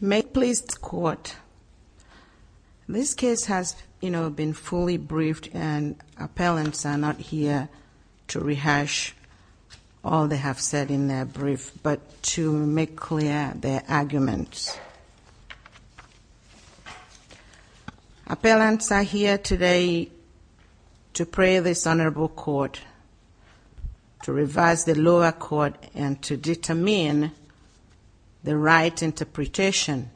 May it please the Court, this case has been fully briefed and appellants are not here to rehash all they have said in their brief but to make clear their arguments. Appellants are here today to pray this Honorable Court, to revise the lower court and to determine the right interpretation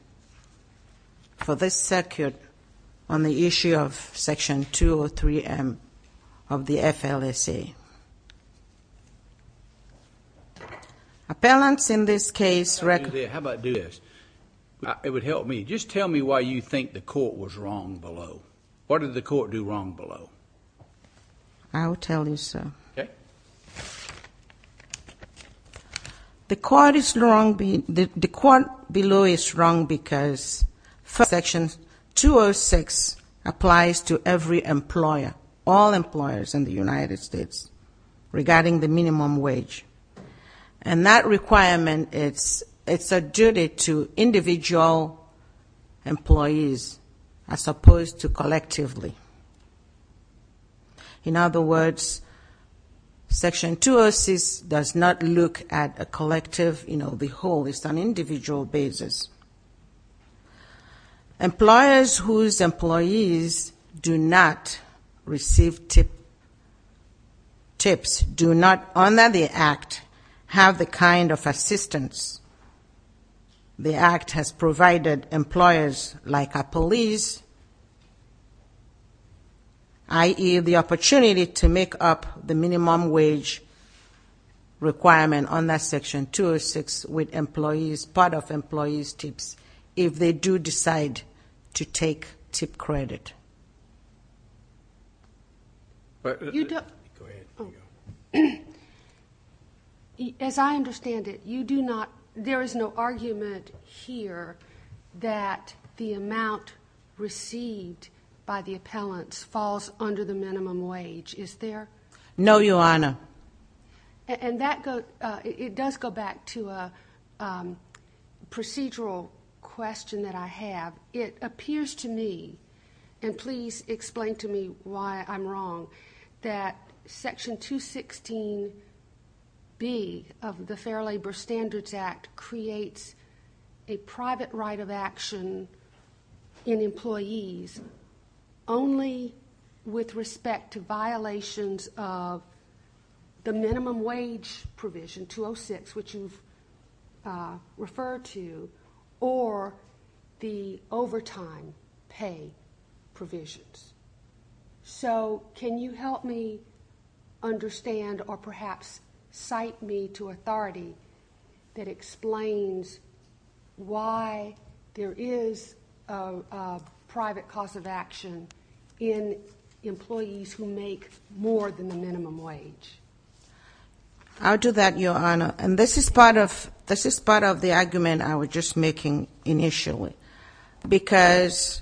for this circuit on the issue of Section 203M of the FLSA. Appellants, in this case, recognize that the court below is wrong because Section 206 applies to every employer, all employers in the United States. Regarding the minimum wage. And that requirement, it's a duty to individual employees as opposed to collectively. In other words, Section 206 does not look at a collective, you know, the whole, it's an individual basis. Employers whose employees do not receive tips, do not honor the act, have the kind of assistance the act has provided employers like a police, i.e., the opportunity to make up the minimum wage requirement on that Section 206 with employees, part of employees' tips if they do decide to take tip credit. But, as I understand it, you do not, there is no argument here that the amount received by the appellants falls under the minimum wage, is there? No, Your Honor. And that goes, it does go back to a procedural question that I have. It appears to me, and please explain to me why I'm wrong, that Section 216B of the Fair Labor Standards Act creates a private right of action in employees only with respect to violations of the minimum wage provision, 206, which you've referred to, or the overtime pay provisions. So, can you help me understand, or perhaps cite me to authority that explains why there is a private cost of action in employees who make more than the minimum wage? I'll do that, Your Honor. And this is part of the argument I was just making initially. Because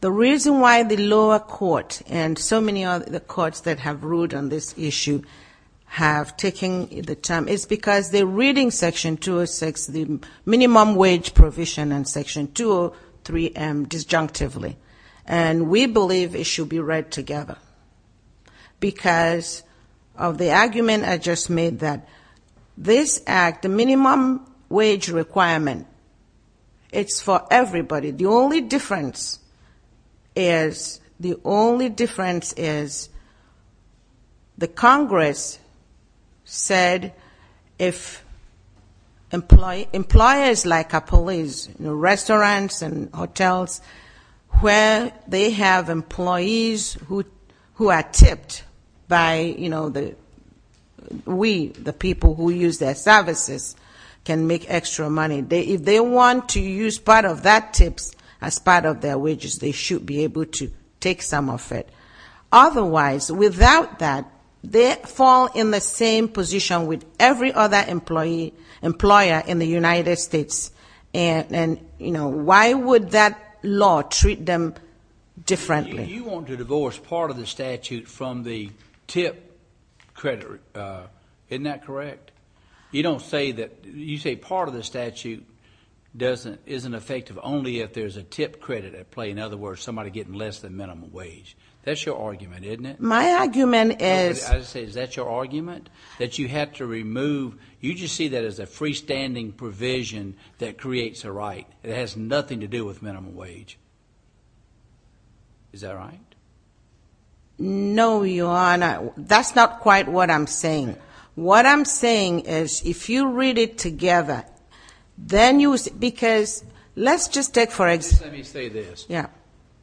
the reason why the lower court and so many of the courts that have ruled on this issue have taken the time is because they're reading Section 206, the minimum wage provision, and Section 203 disjunctively. And we believe it should be read together. Because of the argument I just made that this act, the minimum wage requirement, it's for everybody. The only difference is, the only difference is, the Congress said if employers like a police, restaurants and hotels, where they have employees who are tipped by, you know, we, the people who use their services, can make extra money. If they want to use part of that tip as part of their wages, they should be able to take some of it. Otherwise, without that, they fall in the same position with every other employer in the United States. And, you know, why would that law treat them differently? You want to divorce part of the statute from the tip credit, isn't that correct? You don't say that, you say part of the statute isn't effective only if there's a tip credit at play. In other words, somebody getting less than minimum wage. That's your argument, isn't it? My argument is- I say, is that your argument? That you have to remove, you just see that as a freestanding provision that creates a right. It has nothing to do with minimum wage. Is that right? No, Your Honor. That's not quite what I'm saying. What I'm saying is, if you read it together, then you-because let's just take, for example- Let me say this. Yeah.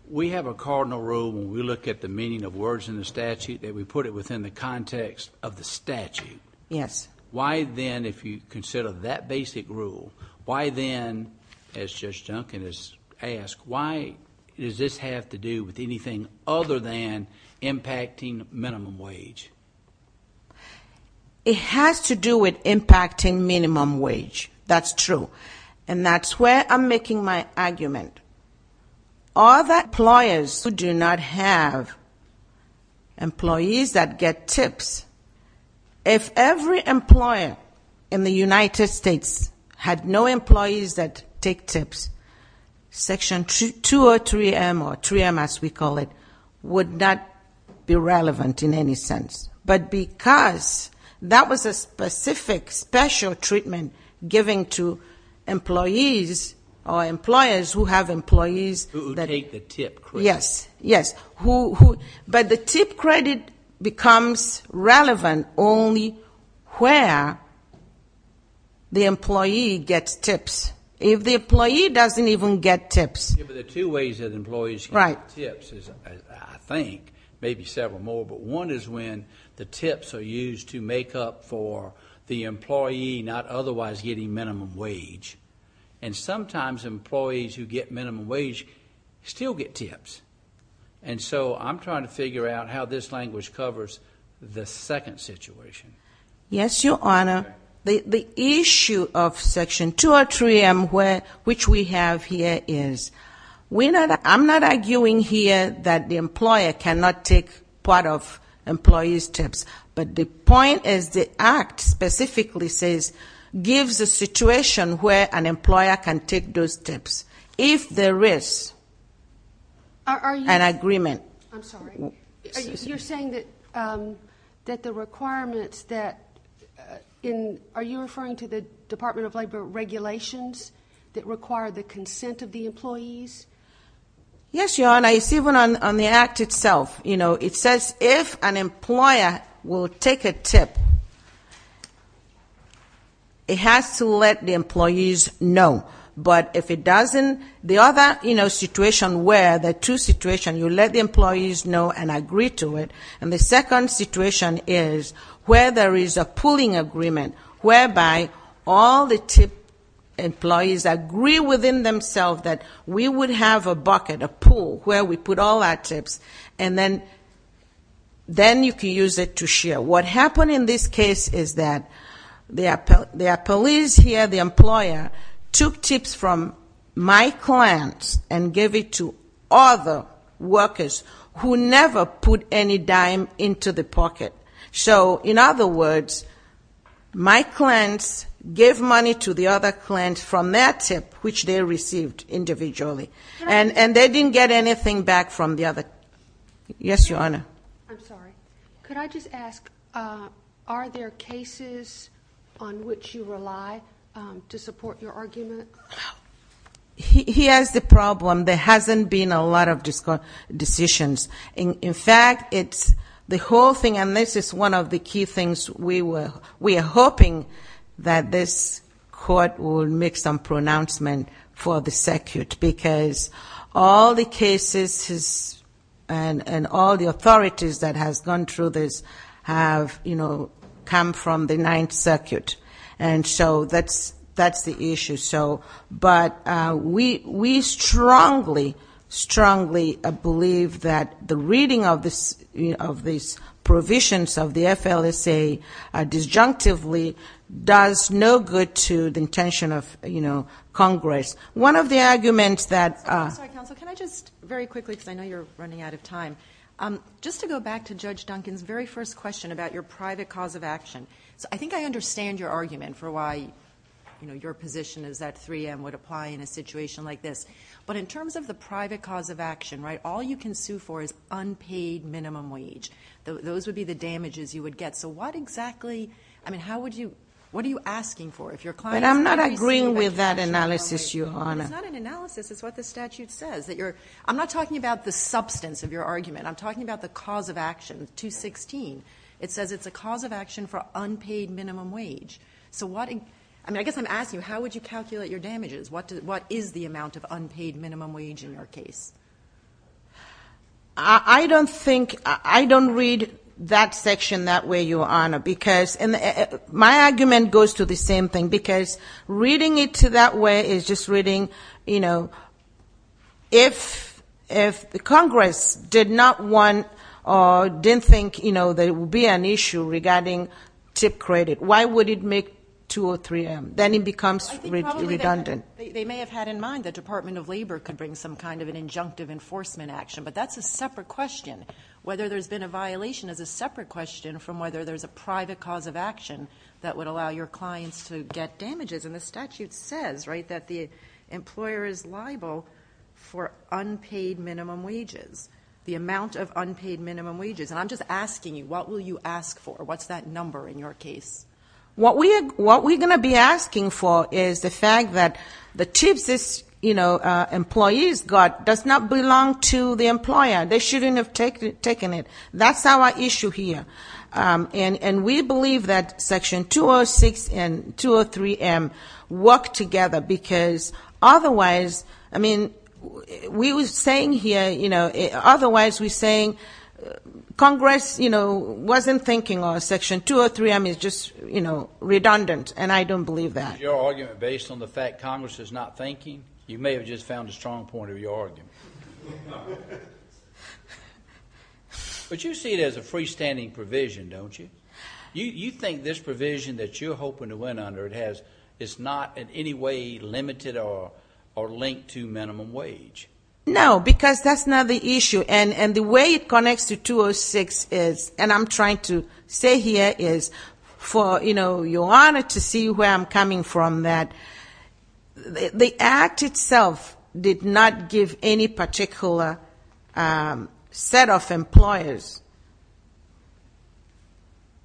We have a cardinal rule when we look at the meaning of words in the statute that we put it within the context of the statute. Yes. Why then, if you consider that basic rule, why then, as Judge Duncan has asked, why does this have to do with anything other than impacting minimum wage? It has to do with impacting minimum wage. That's true. And that's where I'm making my argument. All the employers who do not have employees that get tips, if every employer in the United States had no employees that take tips, Section 203M, or 3M as we call it, would not be relevant in any sense. But because that was a specific, special treatment given to employees or employers who have employees- Who take the tip credit. Yes. Yes. But the tip credit becomes relevant only where the employee gets tips. If the employee doesn't even get tips- Yeah, but there are two ways that employees can get tips, I think, maybe several more. But one is when the tips are used to make up for the employee not otherwise getting minimum wage. And sometimes employees who get minimum wage still get tips. And so I'm trying to figure out how this language covers the second situation. Yes, Your Honor. The issue of Section 203M, which we have here, is I'm not arguing here that the employer cannot take part of employees' tips. But the point is the Act specifically says gives a situation where an employer can take those tips if there is an agreement. I'm sorry. You're saying that the requirements that- Are you referring to the Department of Labor regulations that require the consent of the employees? Yes, Your Honor. It's even on the Act itself. It says if an employer will take a tip, it has to let the employees know. But if it doesn't, the other situation where the two situations, you let the employees know and agree to it, and the second situation is where there is a pooling agreement whereby all the tip employees agree within themselves that we would have a bucket, a pool, where we put all our tips, and then you can use it to share. What happened in this case is that the employees here, the employer, took tips from my clients and gave it to other workers who never put any dime into the pocket. So, in other words, my clients gave money to the other clients from their tip, which they received individually. And they didn't get anything back from the other- Yes, Your Honor. I'm sorry. Could I just ask, are there cases on which you rely to support your argument? Here's the problem. There hasn't been a lot of decisions. In fact, it's the whole thing, and this is one of the key things we were hoping that this court would make some pronouncement for the circuit, because all the cases and all the authorities that has gone through this have, you know, come from the Ninth Circuit, and so that's the issue. But we strongly, strongly believe that the reading of these provisions of the FLSA disjunctively does no good to the intention of Congress. One of the arguments that- I'm sorry, counsel. Can I just, very quickly, because I know you're running out of time, just to go back to Judge Duncan's very first question about your private cause of action. So I think I understand your argument for why, you know, your position is that 3M would apply in a situation like this. But in terms of the private cause of action, right, all you can sue for is unpaid minimum wage. Those would be the damages you would get. So what exactly- I mean, how would you- what are you asking for? If your client- But I'm not agreeing with that analysis, Your Honor. It's not an analysis. It's what the statute says, that you're- I'm not talking about the substance of your argument. I'm talking about the cause of action, 216. It says it's a cause of action for unpaid minimum wage. So what- I mean, I guess I'm asking you, how would you calculate your damages? What is the amount of unpaid minimum wage in your case? I don't think- I don't read that section that way, Your Honor, because- and my argument goes to the same thing, because reading it that way is just reading, you know, if Congress did not want or didn't think, you know, there would be an issue regarding tip credit, why would it make 203M? Then it becomes redundant. They may have had in mind the Department of Labor could bring some kind of an injunctive enforcement action, but that's a separate question. Whether there's been a violation is a separate question from whether there's a private cause of action that would allow your clients to get damages. And the statute says, right, that the employer is liable for unpaid minimum wages, the amount of unpaid minimum wages. And I'm just asking you, what will you ask for? What's that number in your case? What we're going to be asking for is the fact that the tips this, you know, employees got does not belong to the employer. They shouldn't have taken it. That's our issue here. And we believe that Section 206 and 203M work together because otherwise, I mean, we were saying here, you know, otherwise we're saying Congress, you know, wasn't thinking on Section 203M is just, you know, redundant, and I don't believe that. Was your argument based on the fact Congress is not thinking? You may have just found a strong point of your argument. But you see it as a freestanding provision, don't you? You think this provision that you're hoping to win under, it's not in any way limited or linked to minimum wage? No, because that's not the issue. And the way it connects to 206 is, and I'm trying to say here is, for, you know, your Honor to see where I'm coming from, that the Act itself did not give any particular set of employers,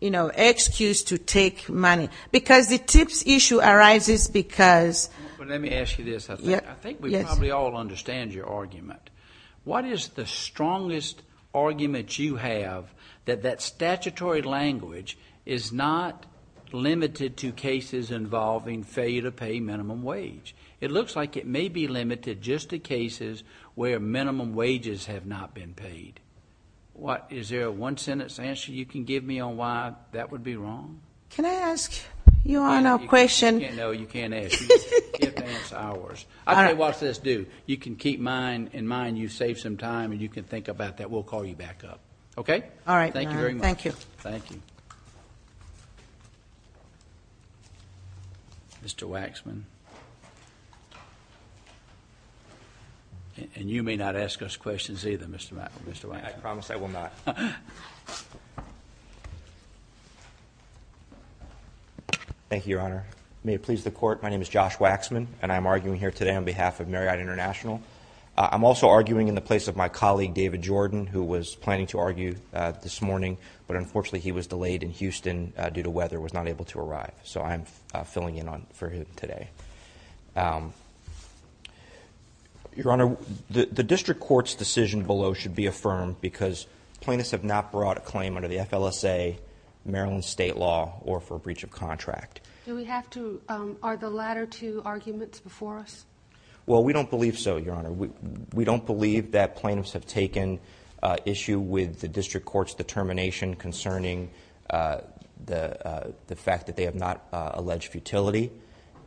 you know, excuse to take money because the tips issue arises because. Let me ask you this. I think we probably all understand your argument. What is the strongest argument you have that that statutory language is not limited to cases involving failure to pay minimum wage? It looks like it may be limited just to cases where minimum wages have not been paid. Is there a one-sentence answer you can give me on why that would be wrong? Can I ask your Honor a question? No, you can't ask. You get to ask ours. I can't watch this do. You can keep mine in mind. You've saved some time, and you can think about that. We'll call you back up. Okay? All right, Your Honor. Thank you very much. Thank you. Thank you. Mr. Waxman. And you may not ask us questions either, Mr. Waxman. I promise I will not. Thank you, Your Honor. May it please the Court, my name is Josh Waxman, and I'm arguing here today on behalf of Marriott International. I'm also arguing in the place of my colleague, David Jordan, who was planning to argue this morning, but unfortunately he was delayed in Houston due to weather and was not able to arrive. So I'm filling in for him today. Your Honor, the district court's decision below should be affirmed because plaintiffs have not brought a claim under the FLSA, Maryland state law, or for breach of contract. Do we have to – are the latter two arguments before us? Well, we don't believe so, Your Honor. We don't believe that plaintiffs have taken issue with the district court's determination concerning the fact that they have not alleged futility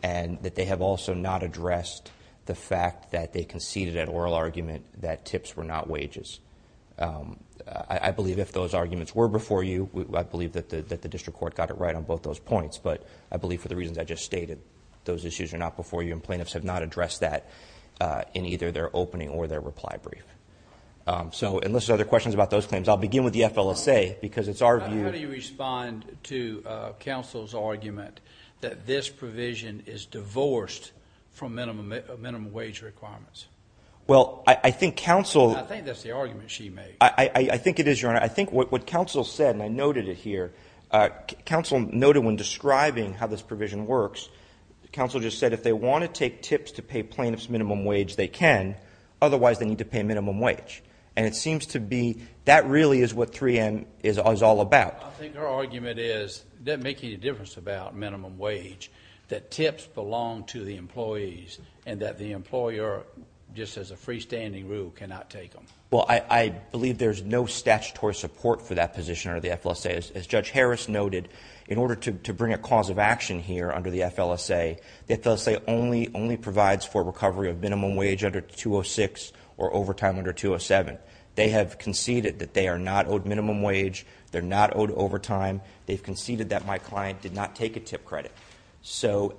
and that they have also not addressed the fact that they conceded an oral argument that tips were not wages. I believe if those arguments were before you, I believe that the district court got it right on both those points, but I believe for the reasons I just stated, those issues are not before you, and plaintiffs have not addressed that in either their opening or their reply brief. So unless there are other questions about those claims, I'll begin with the FLSA because it's our view – How do you respond to counsel's argument that this provision is divorced from minimum wage requirements? Well, I think counsel – I think that's the argument she made. I think it is, Your Honor. I think what counsel said, and I noted it here, counsel noted when describing how this provision works, counsel just said if they want to take tips to pay plaintiffs minimum wage, they can. Otherwise, they need to pay minimum wage. And it seems to be that really is what 3N is all about. I think her argument is it doesn't make any difference about minimum wage that tips belong to the employees and that the employer, just as a freestanding rule, cannot take them. Well, I believe there's no statutory support for that position under the FLSA. As Judge Harris noted, in order to bring a cause of action here under the FLSA, the FLSA only provides for recovery of minimum wage under 206 or overtime under 207. They have conceded that they are not owed minimum wage. They're not owed overtime. They've conceded that my client did not take a tip credit. So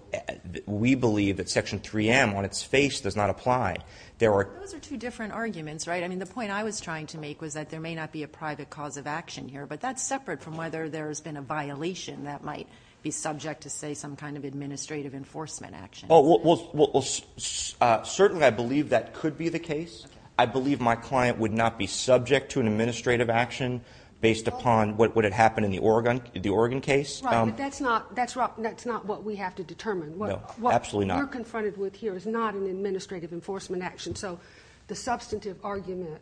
we believe that Section 3M on its face does not apply. Those are two different arguments, right? I mean, the point I was trying to make was that there may not be a private cause of action here, but that's separate from whether there's been a violation that might be subject to, say, some kind of administrative enforcement action. Well, certainly I believe that could be the case. I believe my client would not be subject to an administrative action based upon what had happened in the Oregon case. Right, but that's not what we have to determine. No, absolutely not. What we're confronted with here is not an administrative enforcement action. So the substantive argument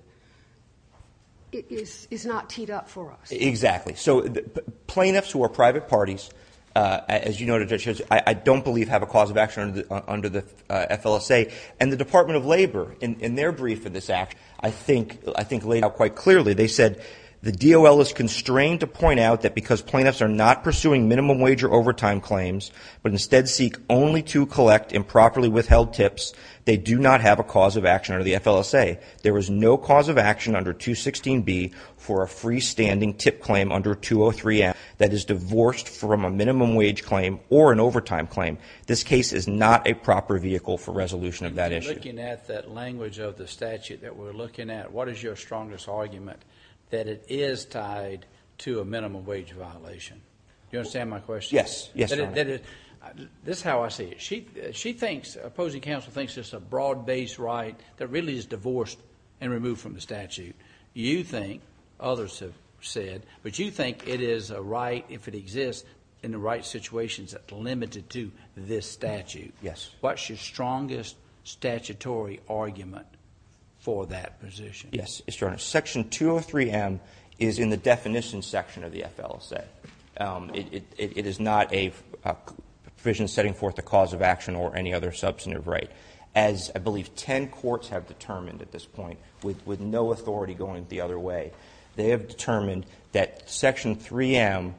is not teed up for us. Exactly. So plaintiffs who are private parties, as you noted, Judge, I don't believe have a cause of action under the FLSA. And the Department of Labor, in their brief for this act, I think laid out quite clearly. They said the DOL is constrained to point out that because plaintiffs are not pursuing minimum wage or overtime claims but instead seek only to collect improperly withheld tips, they do not have a cause of action under the FLSA. There is no cause of action under 216B for a freestanding tip claim under 203A that is divorced from a minimum wage claim or an overtime claim. This case is not a proper vehicle for resolution of that issue. Looking at that language of the statute that we're looking at, what is your strongest argument that it is tied to a minimum wage violation? Do you understand my question? Yes. Yes, Your Honor. This is how I see it. She thinks, opposing counsel thinks it's a broad-based right that really is divorced and removed from the statute. You think, others have said, but you think it is a right if it exists in the right situations that's limited to this statute. Yes. What's your strongest statutory argument for that position? Yes, Your Honor. Section 203M is in the definition section of the FLSA. It is not a provision setting forth a cause of action or any other substantive right. As I believe ten courts have determined at this point with no authority going the other way, they have determined that Section 3M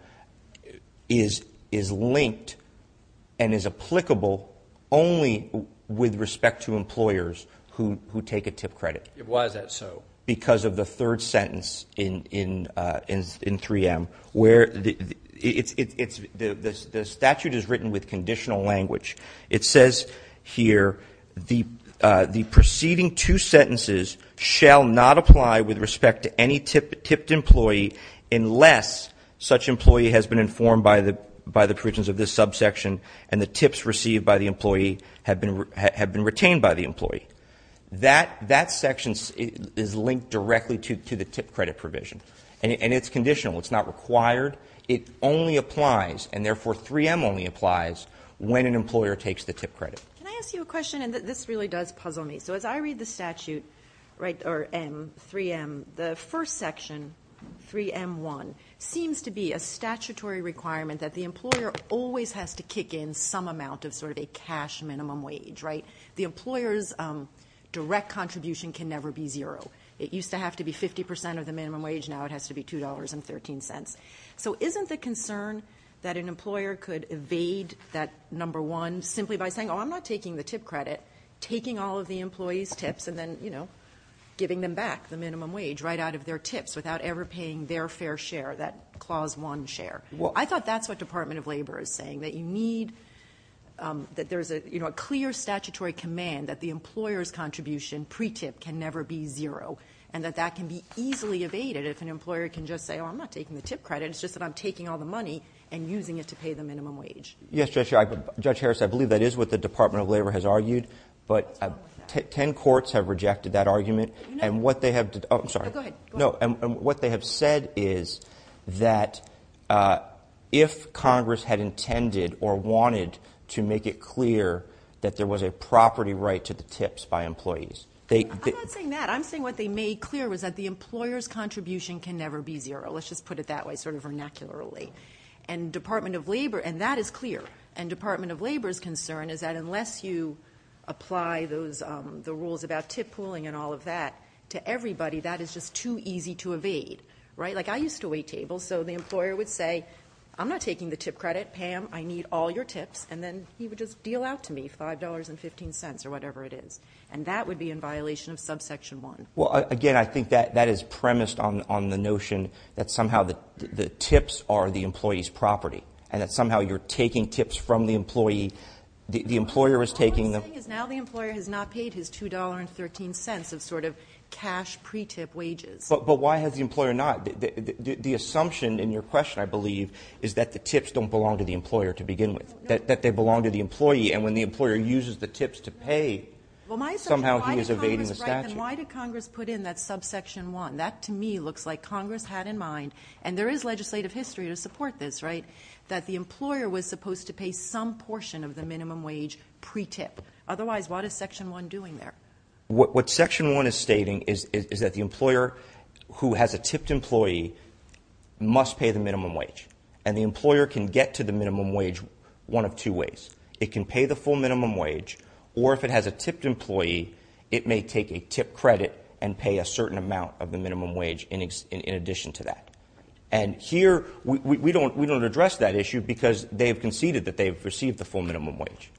is linked and is applicable only with respect to employers who take a tip credit. Why is that so? Because of the third sentence in 3M where the statute is written with conditional language. It says here, the preceding two sentences shall not apply with respect to any tipped employee unless such employee has been informed by the provisions of this subsection and the tips received by the employee have been retained by the employee. That section is linked directly to the tip credit provision. And it's conditional. It's not required. It only applies, and therefore 3M only applies, when an employer takes the tip credit. Can I ask you a question? And this really does puzzle me. So as I read the statute, or 3M, the first section, 3M1, seems to be a statutory requirement that the employer always has to kick in some amount of sort of a cash minimum wage. The employer's direct contribution can never be zero. It used to have to be 50% of the minimum wage. Now it has to be $2.13. So isn't the concern that an employer could evade that number one simply by saying, oh, I'm not taking the tip credit, taking all of the employee's tips and then giving them back the minimum wage right out of their tips without ever paying their fair share, that Clause 1 share? Well, I thought that's what Department of Labor is saying, that you need that there's a clear statutory command that the employer's contribution pre-tip can never be zero and that that can be easily evaded if an employer can just say, oh, I'm not taking the tip credit. It's just that I'm taking all the money and using it to pay the minimum wage. Yes, Judge Harris, I believe that is what the Department of Labor has argued, but ten courts have rejected that argument, and what they have said is that if Congress had intended or wanted to make it clear that there was a property right to the tips by employees. I'm not saying that. I'm saying what they made clear was that the employer's contribution can never be zero. Let's just put it that way, sort of vernacularly, and that is clear. And Department of Labor's concern is that unless you apply the rules about tip pooling and all of that to everybody, that is just too easy to evade, right? Like I used to wait tables, so the employer would say, I'm not taking the tip credit. Pam, I need all your tips, and then he would just deal out to me $5.15 or whatever it is, and that would be in violation of subsection 1. Well, again, I think that is premised on the notion that somehow the tips are the employee's property and that somehow you're taking tips from the employee. The employer is taking them. What I'm saying is now the employer has not paid his $2.13 of sort of cash pre-tip wages. But why has the employer not? The assumption in your question, I believe, is that the tips don't belong to the employer to begin with, that they belong to the employee, and when the employer uses the tips to pay, somehow he is evading the statute. Why did Congress put in that subsection 1? That, to me, looks like Congress had in mind, and there is legislative history to support this, right, that the employer was supposed to pay some portion of the minimum wage pre-tip. Otherwise, what is section 1 doing there? What section 1 is stating is that the employer who has a tipped employee must pay the minimum wage, and the employer can get to the minimum wage one of two ways. It can pay the full minimum wage, or if it has a tipped employee, it may take a tip credit and pay a certain amount of the minimum wage in addition to that. And here we don't address that issue because they have conceded that they have received the full minimum wage.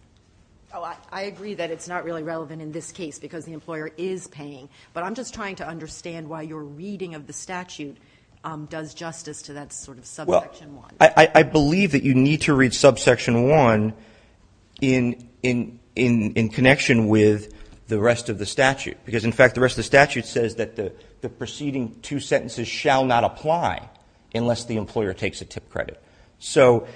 Oh, I agree that it's not really relevant in this case because the employer is paying, but I'm just trying to understand why your reading of the statute does justice to that sort of subsection 1. Well, I believe that you need to read subsection 1 in connection with the rest of the statute because, in fact, the rest of the statute says that the preceding two sentences shall not apply unless the employer takes a tip credit. So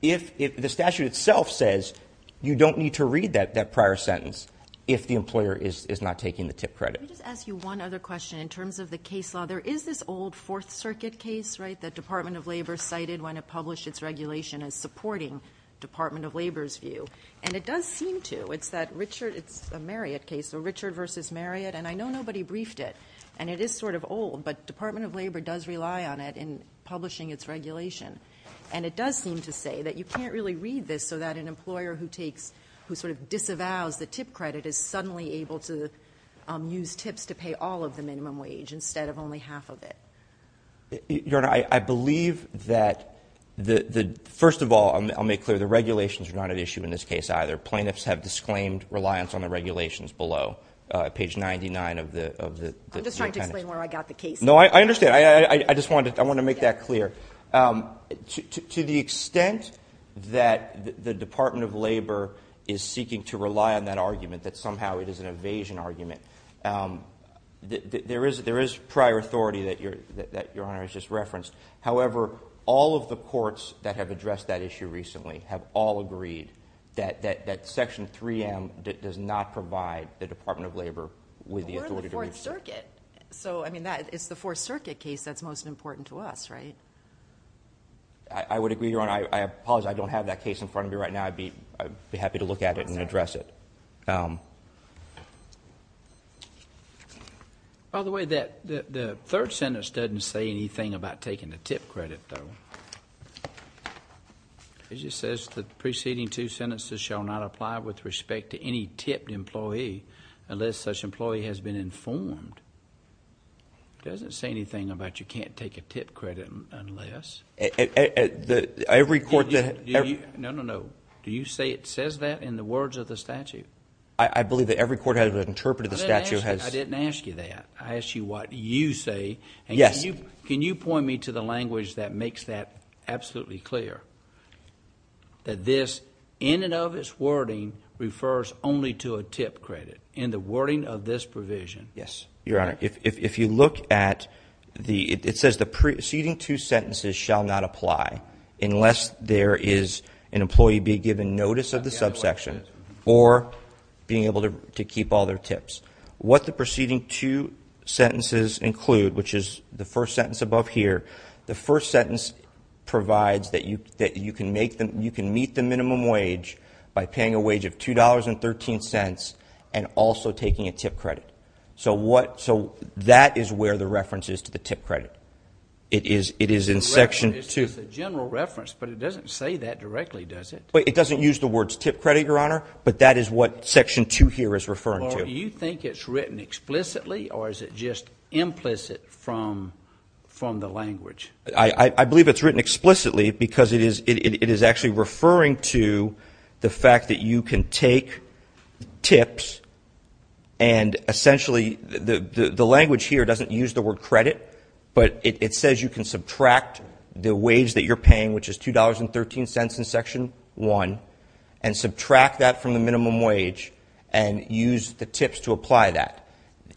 the statute itself says you don't need to read that prior sentence if the employer is not taking the tip credit. Let me just ask you one other question in terms of the case law. There is this old Fourth Circuit case, right, that Department of Labor cited when it published its regulation as supporting Department of Labor's view, and it does seem to. It's a Marriott case, so Richard v. Marriott, and I know nobody briefed it, and it is sort of old, but Department of Labor does rely on it in publishing its regulation, and it does seem to say that you can't really read this so that an employer who sort of disavows the tip credit is suddenly able to use tips to pay all of the minimum wage instead of only half of it. Your Honor, I believe that, first of all, I'll make clear the regulations are not at issue in this case either. Plaintiffs have disclaimed reliance on the regulations below, page 99 of the appendix. I'm just trying to explain where I got the case. No, I understand. I just wanted to make that clear. To the extent that the Department of Labor is seeking to rely on that argument, that somehow it is an evasion argument, there is prior authority that Your Honor has just referenced. However, all of the courts that have addressed that issue recently have all agreed that Section 3M does not provide the Department of Labor with the authority to brief. We're in the Fourth Circuit. It's the Fourth Circuit case that's most important to us, right? I would agree, Your Honor. I apologize. I don't have that case in front of me right now. I'd be happy to look at it and address it. By the way, the third sentence doesn't say anything about taking the tip credit, though. It just says the preceding two sentences shall not apply with respect to any tipped employee unless such employee has been informed. It doesn't say anything about you can't take a tip credit unless... Every court that... No, no, no. Do you say it says that in the words of the statute? I believe that every court that has interpreted the statute has... I didn't ask you that. I asked you what you say. Yes. Can you point me to the language that makes that absolutely clear, that this, in and of its wording, refers only to a tip credit in the wording of this provision? Yes. Your Honor, if you look at the... It says the preceding two sentences shall not apply unless there is an employee being given notice of the subsection or being able to keep all their tips. What the preceding two sentences include, which is the first sentence above here, the first sentence provides that you can meet the minimum wage by paying a wage of $2.13 and also taking a tip credit. So what... So that is where the reference is to the tip credit. It is in Section 2. It's a general reference, but it doesn't say that directly, does it? It doesn't use the words tip credit, Your Honor, but that is what Section 2 here is referring to. Do you think it's written explicitly or is it just implicit from the language? I believe it's written explicitly because it is actually referring to the fact that you can take tips and essentially the language here doesn't use the word credit, but it says you can subtract the wage that you're paying, which is $2.13 in Section 1, and subtract that from the minimum wage and use the tips to apply that.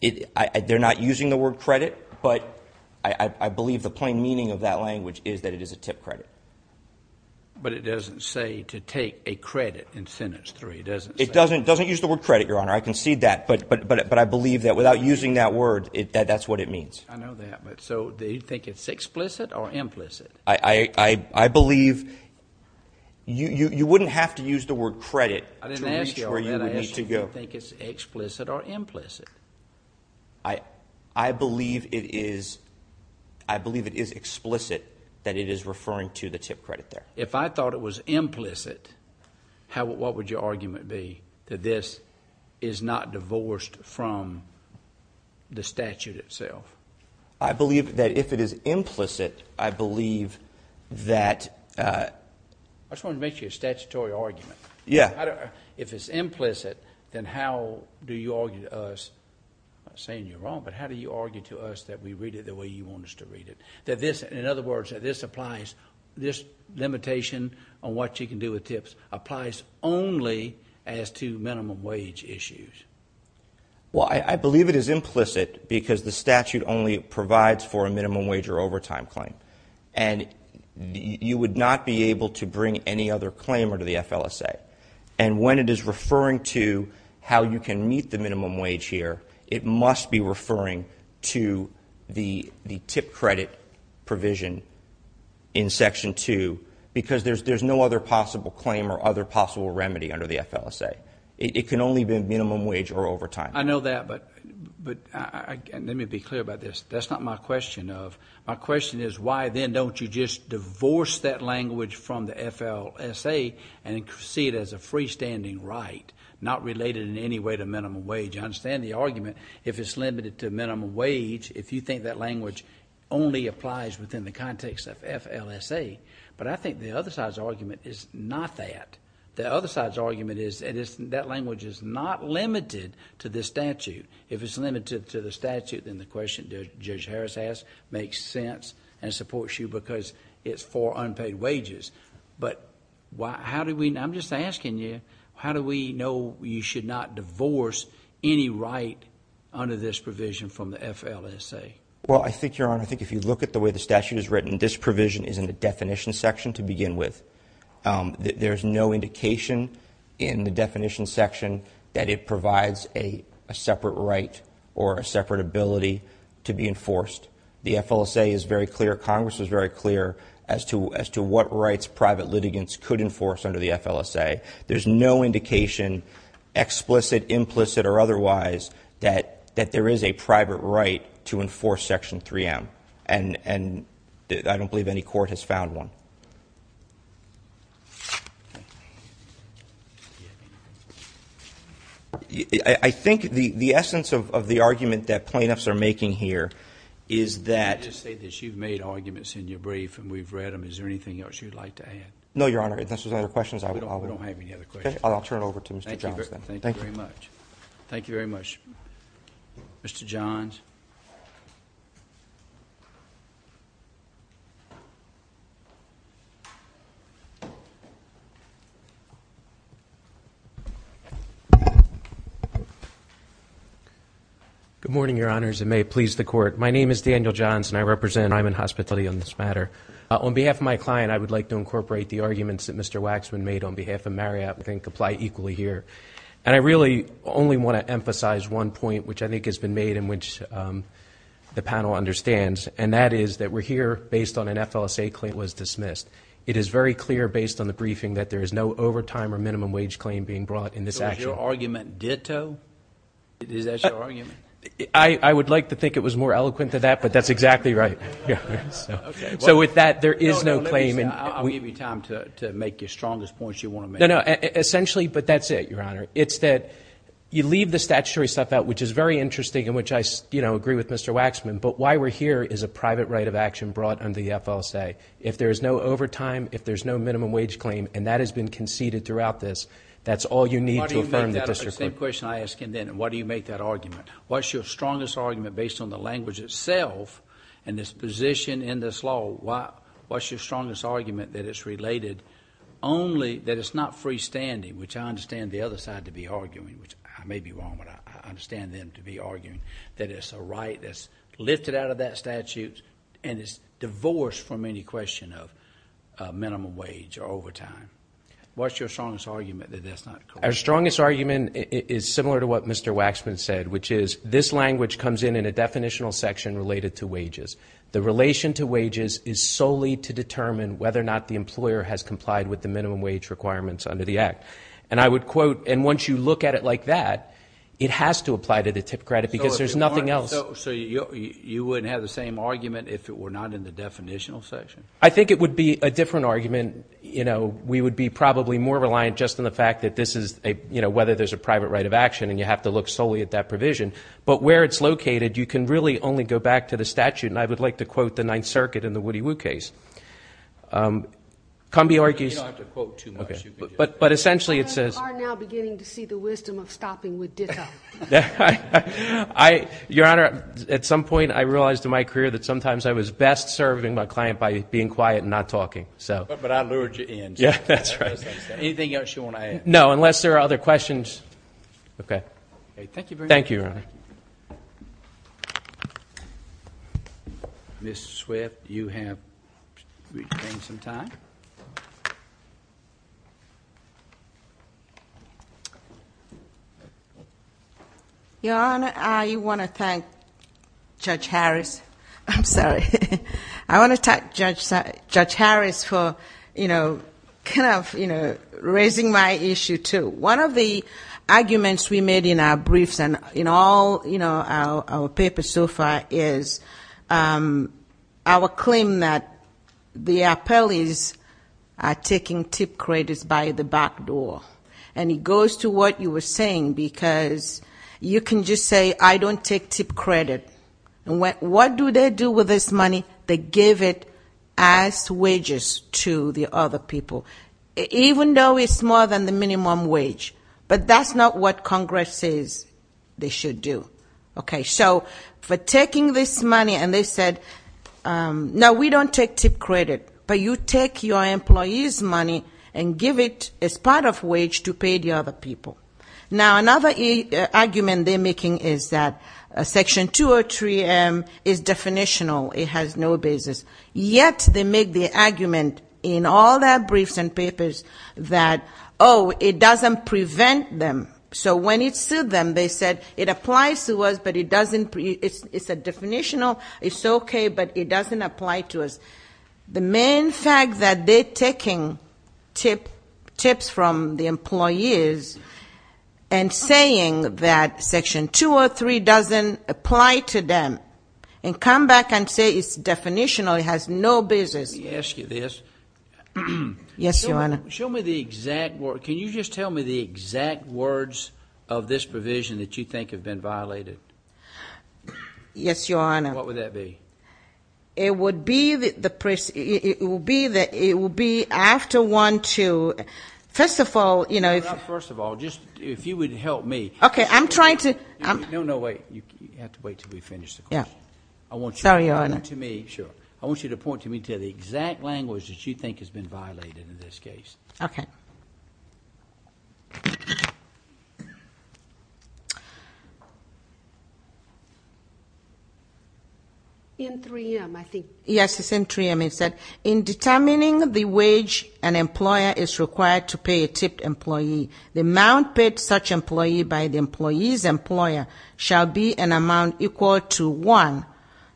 They're not using the word credit, but I believe the plain meaning of that language is that it is a tip credit. But it doesn't say to take a credit in Sentence 3, does it? It doesn't use the word credit, Your Honor. I concede that, but I believe that without using that word, that's what it means. I know that, but so do you think it's explicit or implicit? I believe you wouldn't have to use the word credit to reach where you would need to go. I didn't ask you. I didn't ask you if you think it's explicit or implicit. I believe it is explicit that it is referring to the tip credit there. If I thought it was implicit, what would your argument be that this is not divorced from the statute itself? I believe that if it is implicit, I believe that – I just wanted to make sure you had a statutory argument. Yeah. If it's implicit, then how do you argue to us? I'm not saying you're wrong, but how do you argue to us that we read it the way you want us to read it? That this, in other words, that this applies, this limitation on what you can do with tips applies only as to minimum wage issues. Well, I believe it is implicit because the statute only provides for a minimum wage or overtime claim, and you would not be able to bring any other claimer to the FLSA. And when it is referring to how you can meet the minimum wage here, it must be referring to the tip credit provision in Section 2 because there's no other possible claim or other possible remedy under the FLSA. It can only be minimum wage or overtime. I know that, but let me be clear about this. That's not my question of – my question is why then don't you just divorce that language from the FLSA and see it as a freestanding right not related in any way to minimum wage? I understand the argument if it's limited to minimum wage, if you think that language only applies within the context of FLSA, but I think the other side's argument is not that. The other side's argument is that language is not limited to this statute. If it's limited to the statute, then the question Judge Harris asked makes sense and supports you because it's for unpaid wages. But how do we – I'm just asking you, how do we know you should not divorce any right under this provision from the FLSA? Well, I think, Your Honor, I think if you look at the way the statute is written, this provision is in the definition section to begin with. There's no indication in the definition section that it provides a separate right or a separate ability to be enforced. The FLSA is very clear, Congress is very clear, as to what rights private litigants could enforce under the FLSA. There's no indication, explicit, implicit, or otherwise, that there is a private right to enforce Section 3M, and I don't believe any court has found one. I think the essence of the argument that plaintiffs are making here is that – Let me just say this. You've made arguments in your brief and we've read them. Is there anything else you'd like to add? No, Your Honor. If this was other questions, I would – We don't have any other questions. Okay. I'll turn it over to Mr. Johns then. Thank you very much. Thank you very much. Mr. Johns. Good morning, Your Honors. It may please the Court. My name is Daniel Johns and I represent – I'm in hospitality on this matter. On behalf of my client, I would like to incorporate the arguments that Mr. Waxman made on behalf of Marriott. I think they apply equally here. And I really only want to emphasize one point, which I think has been made and which the panel understands, and that is that we're here based on an FLSA claim that was dismissed. It is very clear based on the briefing that there is no overtime or minimum wage claim being brought in this action. So is your argument ditto? Is that your argument? I would like to think it was more eloquent than that, but that's exactly right. Okay. So with that, there is no claim. I'll give you time to make your strongest points you want to make. No, no. Essentially, but that's it, Your Honor. It's that you leave the statutory stuff out, which is very interesting and which I agree with Mr. Waxman, but why we're here is a private right of action brought under the FLSA. If there is no overtime, if there is no minimum wage claim, and that has been conceded throughout this, that's all you need to affirm the district court. Why do you make that up? It's the same question I asked him then. Why do you make that argument? What's your strongest argument based on the language itself and its position in this law? What's your strongest argument that it's related only that it's not freestanding, which I understand the other side to be arguing, which I may be wrong, but I understand them to be arguing that it's a right that's lifted out of that statute and it's divorced from any question of minimum wage or overtime. What's your strongest argument that that's not correct? Our strongest argument is similar to what Mr. Waxman said, which is this language comes in in a definitional section related to wages. The relation to wages is solely to determine whether or not the employer has complied with the minimum wage requirements under the Act. And I would quote, and once you look at it like that, it has to apply to the tip credit because there's nothing else. So you wouldn't have the same argument if it were not in the definitional section? I think it would be a different argument. We would be probably more reliant just on the fact that this is a, whether there's a private right of action and you have to look solely at that provision. But where it's located, you can really only go back to the statute, and I would like to quote the Ninth Circuit in the Woody Woo case. You don't have to quote too much. But essentially it says. You are now beginning to see the wisdom of stopping with ditto. Your Honor, at some point I realized in my career that sometimes I was best serving my client by being quiet and not talking. But I lured you in. Yeah, that's right. Anything else you want to add? No, unless there are other questions. Okay. Thank you very much. Thank you, Your Honor. Ms. Swift, you have retained some time. Your Honor, I want to thank Judge Harris. I'm sorry. I want to thank Judge Harris for, you know, kind of, you know, raising my issue too. One of the arguments we made in our briefs and in all, you know, our papers so far is our claim that the appellees are taking tip credits by the back door. And it goes to what you were saying because you can just say, I don't take tip credit. What do they do with this money? They give it as wages to the other people. Even though it's more than the minimum wage. But that's not what Congress says they should do. Okay. So for taking this money and they said, no, we don't take tip credit. But you take your employees' money and give it as part of wage to pay the other people. Now, another argument they're making is that Section 203M is definitional. It has no basis. Yet they make the argument in all their briefs and papers that, oh, it doesn't prevent them. So when it sued them, they said it applies to us, but it doesn't, it's definitional. It's okay, but it doesn't apply to us. The main fact that they're taking tips from the employees and saying that Section 203 doesn't apply to them and come back and say it's definitional, it has no basis. Let me ask you this. Yes, Your Honor. Show me the exact words. Can you just tell me the exact words of this provision that you think have been violated? Yes, Your Honor. What would that be? It would be after 1-2. First of all, you know. First of all, if you would help me. Okay. I'm trying to. No, no, wait. You have to wait until we finish the question. Sorry, Your Honor. I want you to point to me. Sure. I want you to point to me to the exact language that you think has been violated in this case. Okay. In 3M, I think. Yes, it's in 3M. It said, in determining the wage an employer is required to pay a tipped employee, the amount paid such employee by the employee's employer shall be an amount equal to, one,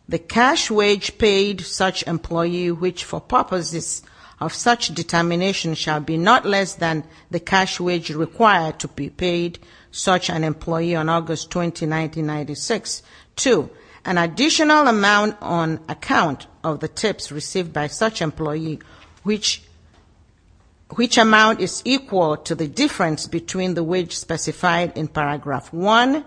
the cash wage paid such employee, which for purposes of such determination, shall be not less than the cash wage required to be paid such an employee on August 20, 1996. Two, an additional amount on account of the tips received by such employee, which amount is equal to the difference between the wage specified in Paragraph 1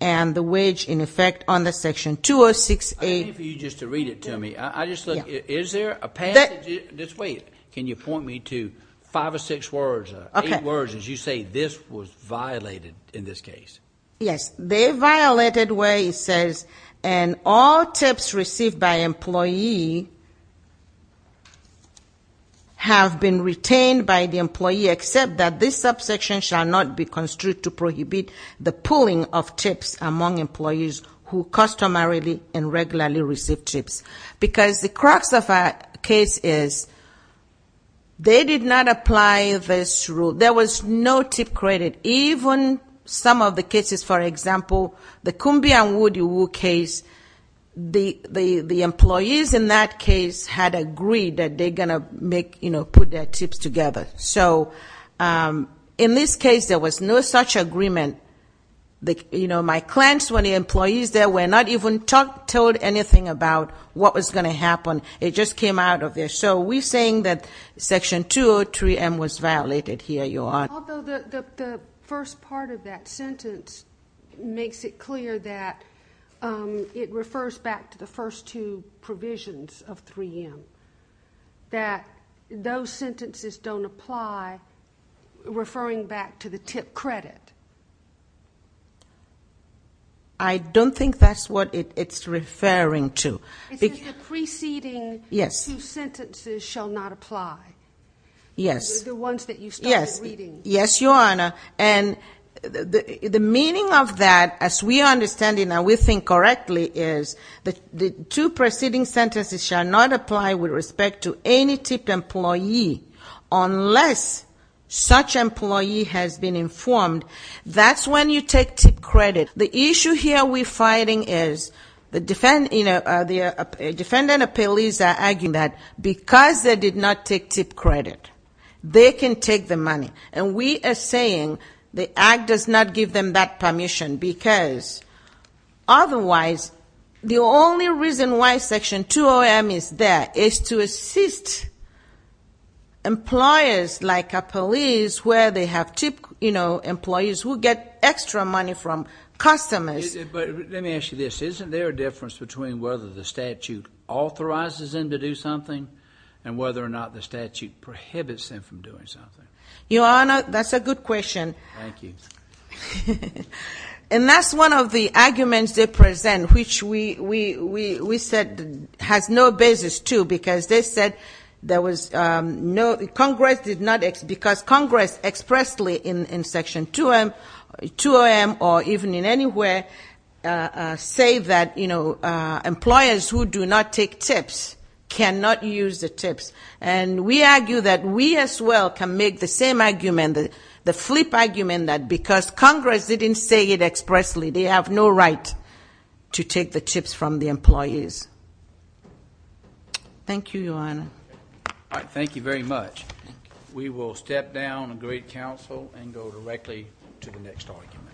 and the wage in effect under Section 206A. I need for you just to read it to me. I just look. Yeah. Is there a passage? Just wait. Can you point me to five or six words, eight words as you say this was violated in this case? Yes. They violated where it says, and all tips received by employee have been retained by the employee, except that this subsection shall not be construed to prohibit the pulling of tips among employees who customarily and regularly receive tips. Because the crux of our case is they did not apply this rule. There was no tip credit. Even some of the cases, for example, the Kumbi and Wodewu case, the employees in that case had agreed that they're going to put their tips together. So in this case, there was no such agreement. My clients were the employees that were not even told anything about what was going to happen. It just came out of there. So we're saying that Section 203M was violated. Here you are. Although the first part of that sentence makes it clear that it refers back to the first two provisions of 3M, that those sentences don't apply, referring back to the tip credit. I don't think that's what it's referring to. It says the preceding two sentences shall not apply. Yes. The ones that you started reading. Yes, Your Honor. And the meaning of that, as we understand it now, we think correctly, is the two preceding sentences shall not apply with respect to any tipped employee unless such employee has been informed. That's when you take tip credit. The issue here we're fighting is the defendant or police are arguing that because they did not take tip credit, they can take the money. And we are saying the act does not give them that permission because otherwise, the only reason why Section 203M is there is to assist employers like a police where they have tip employees who get extra money from customers. But let me ask you this. Isn't there a difference between whether the statute authorizes them to do something and whether or not the statute prohibits them from doing something? Your Honor, that's a good question. Thank you. And that's one of the arguments they present, which we said has no basis, too, because Congress expressly in Section 203M or even in anywhere say that, you know, employers who do not take tips cannot use the tips. And we argue that we as well can make the same argument, the flip argument that because Congress didn't say it expressly, they have no right to take the tips from the employees. Thank you, Your Honor. All right. Thank you very much. Thank you. We will step down and greet counsel and go directly to the next argument.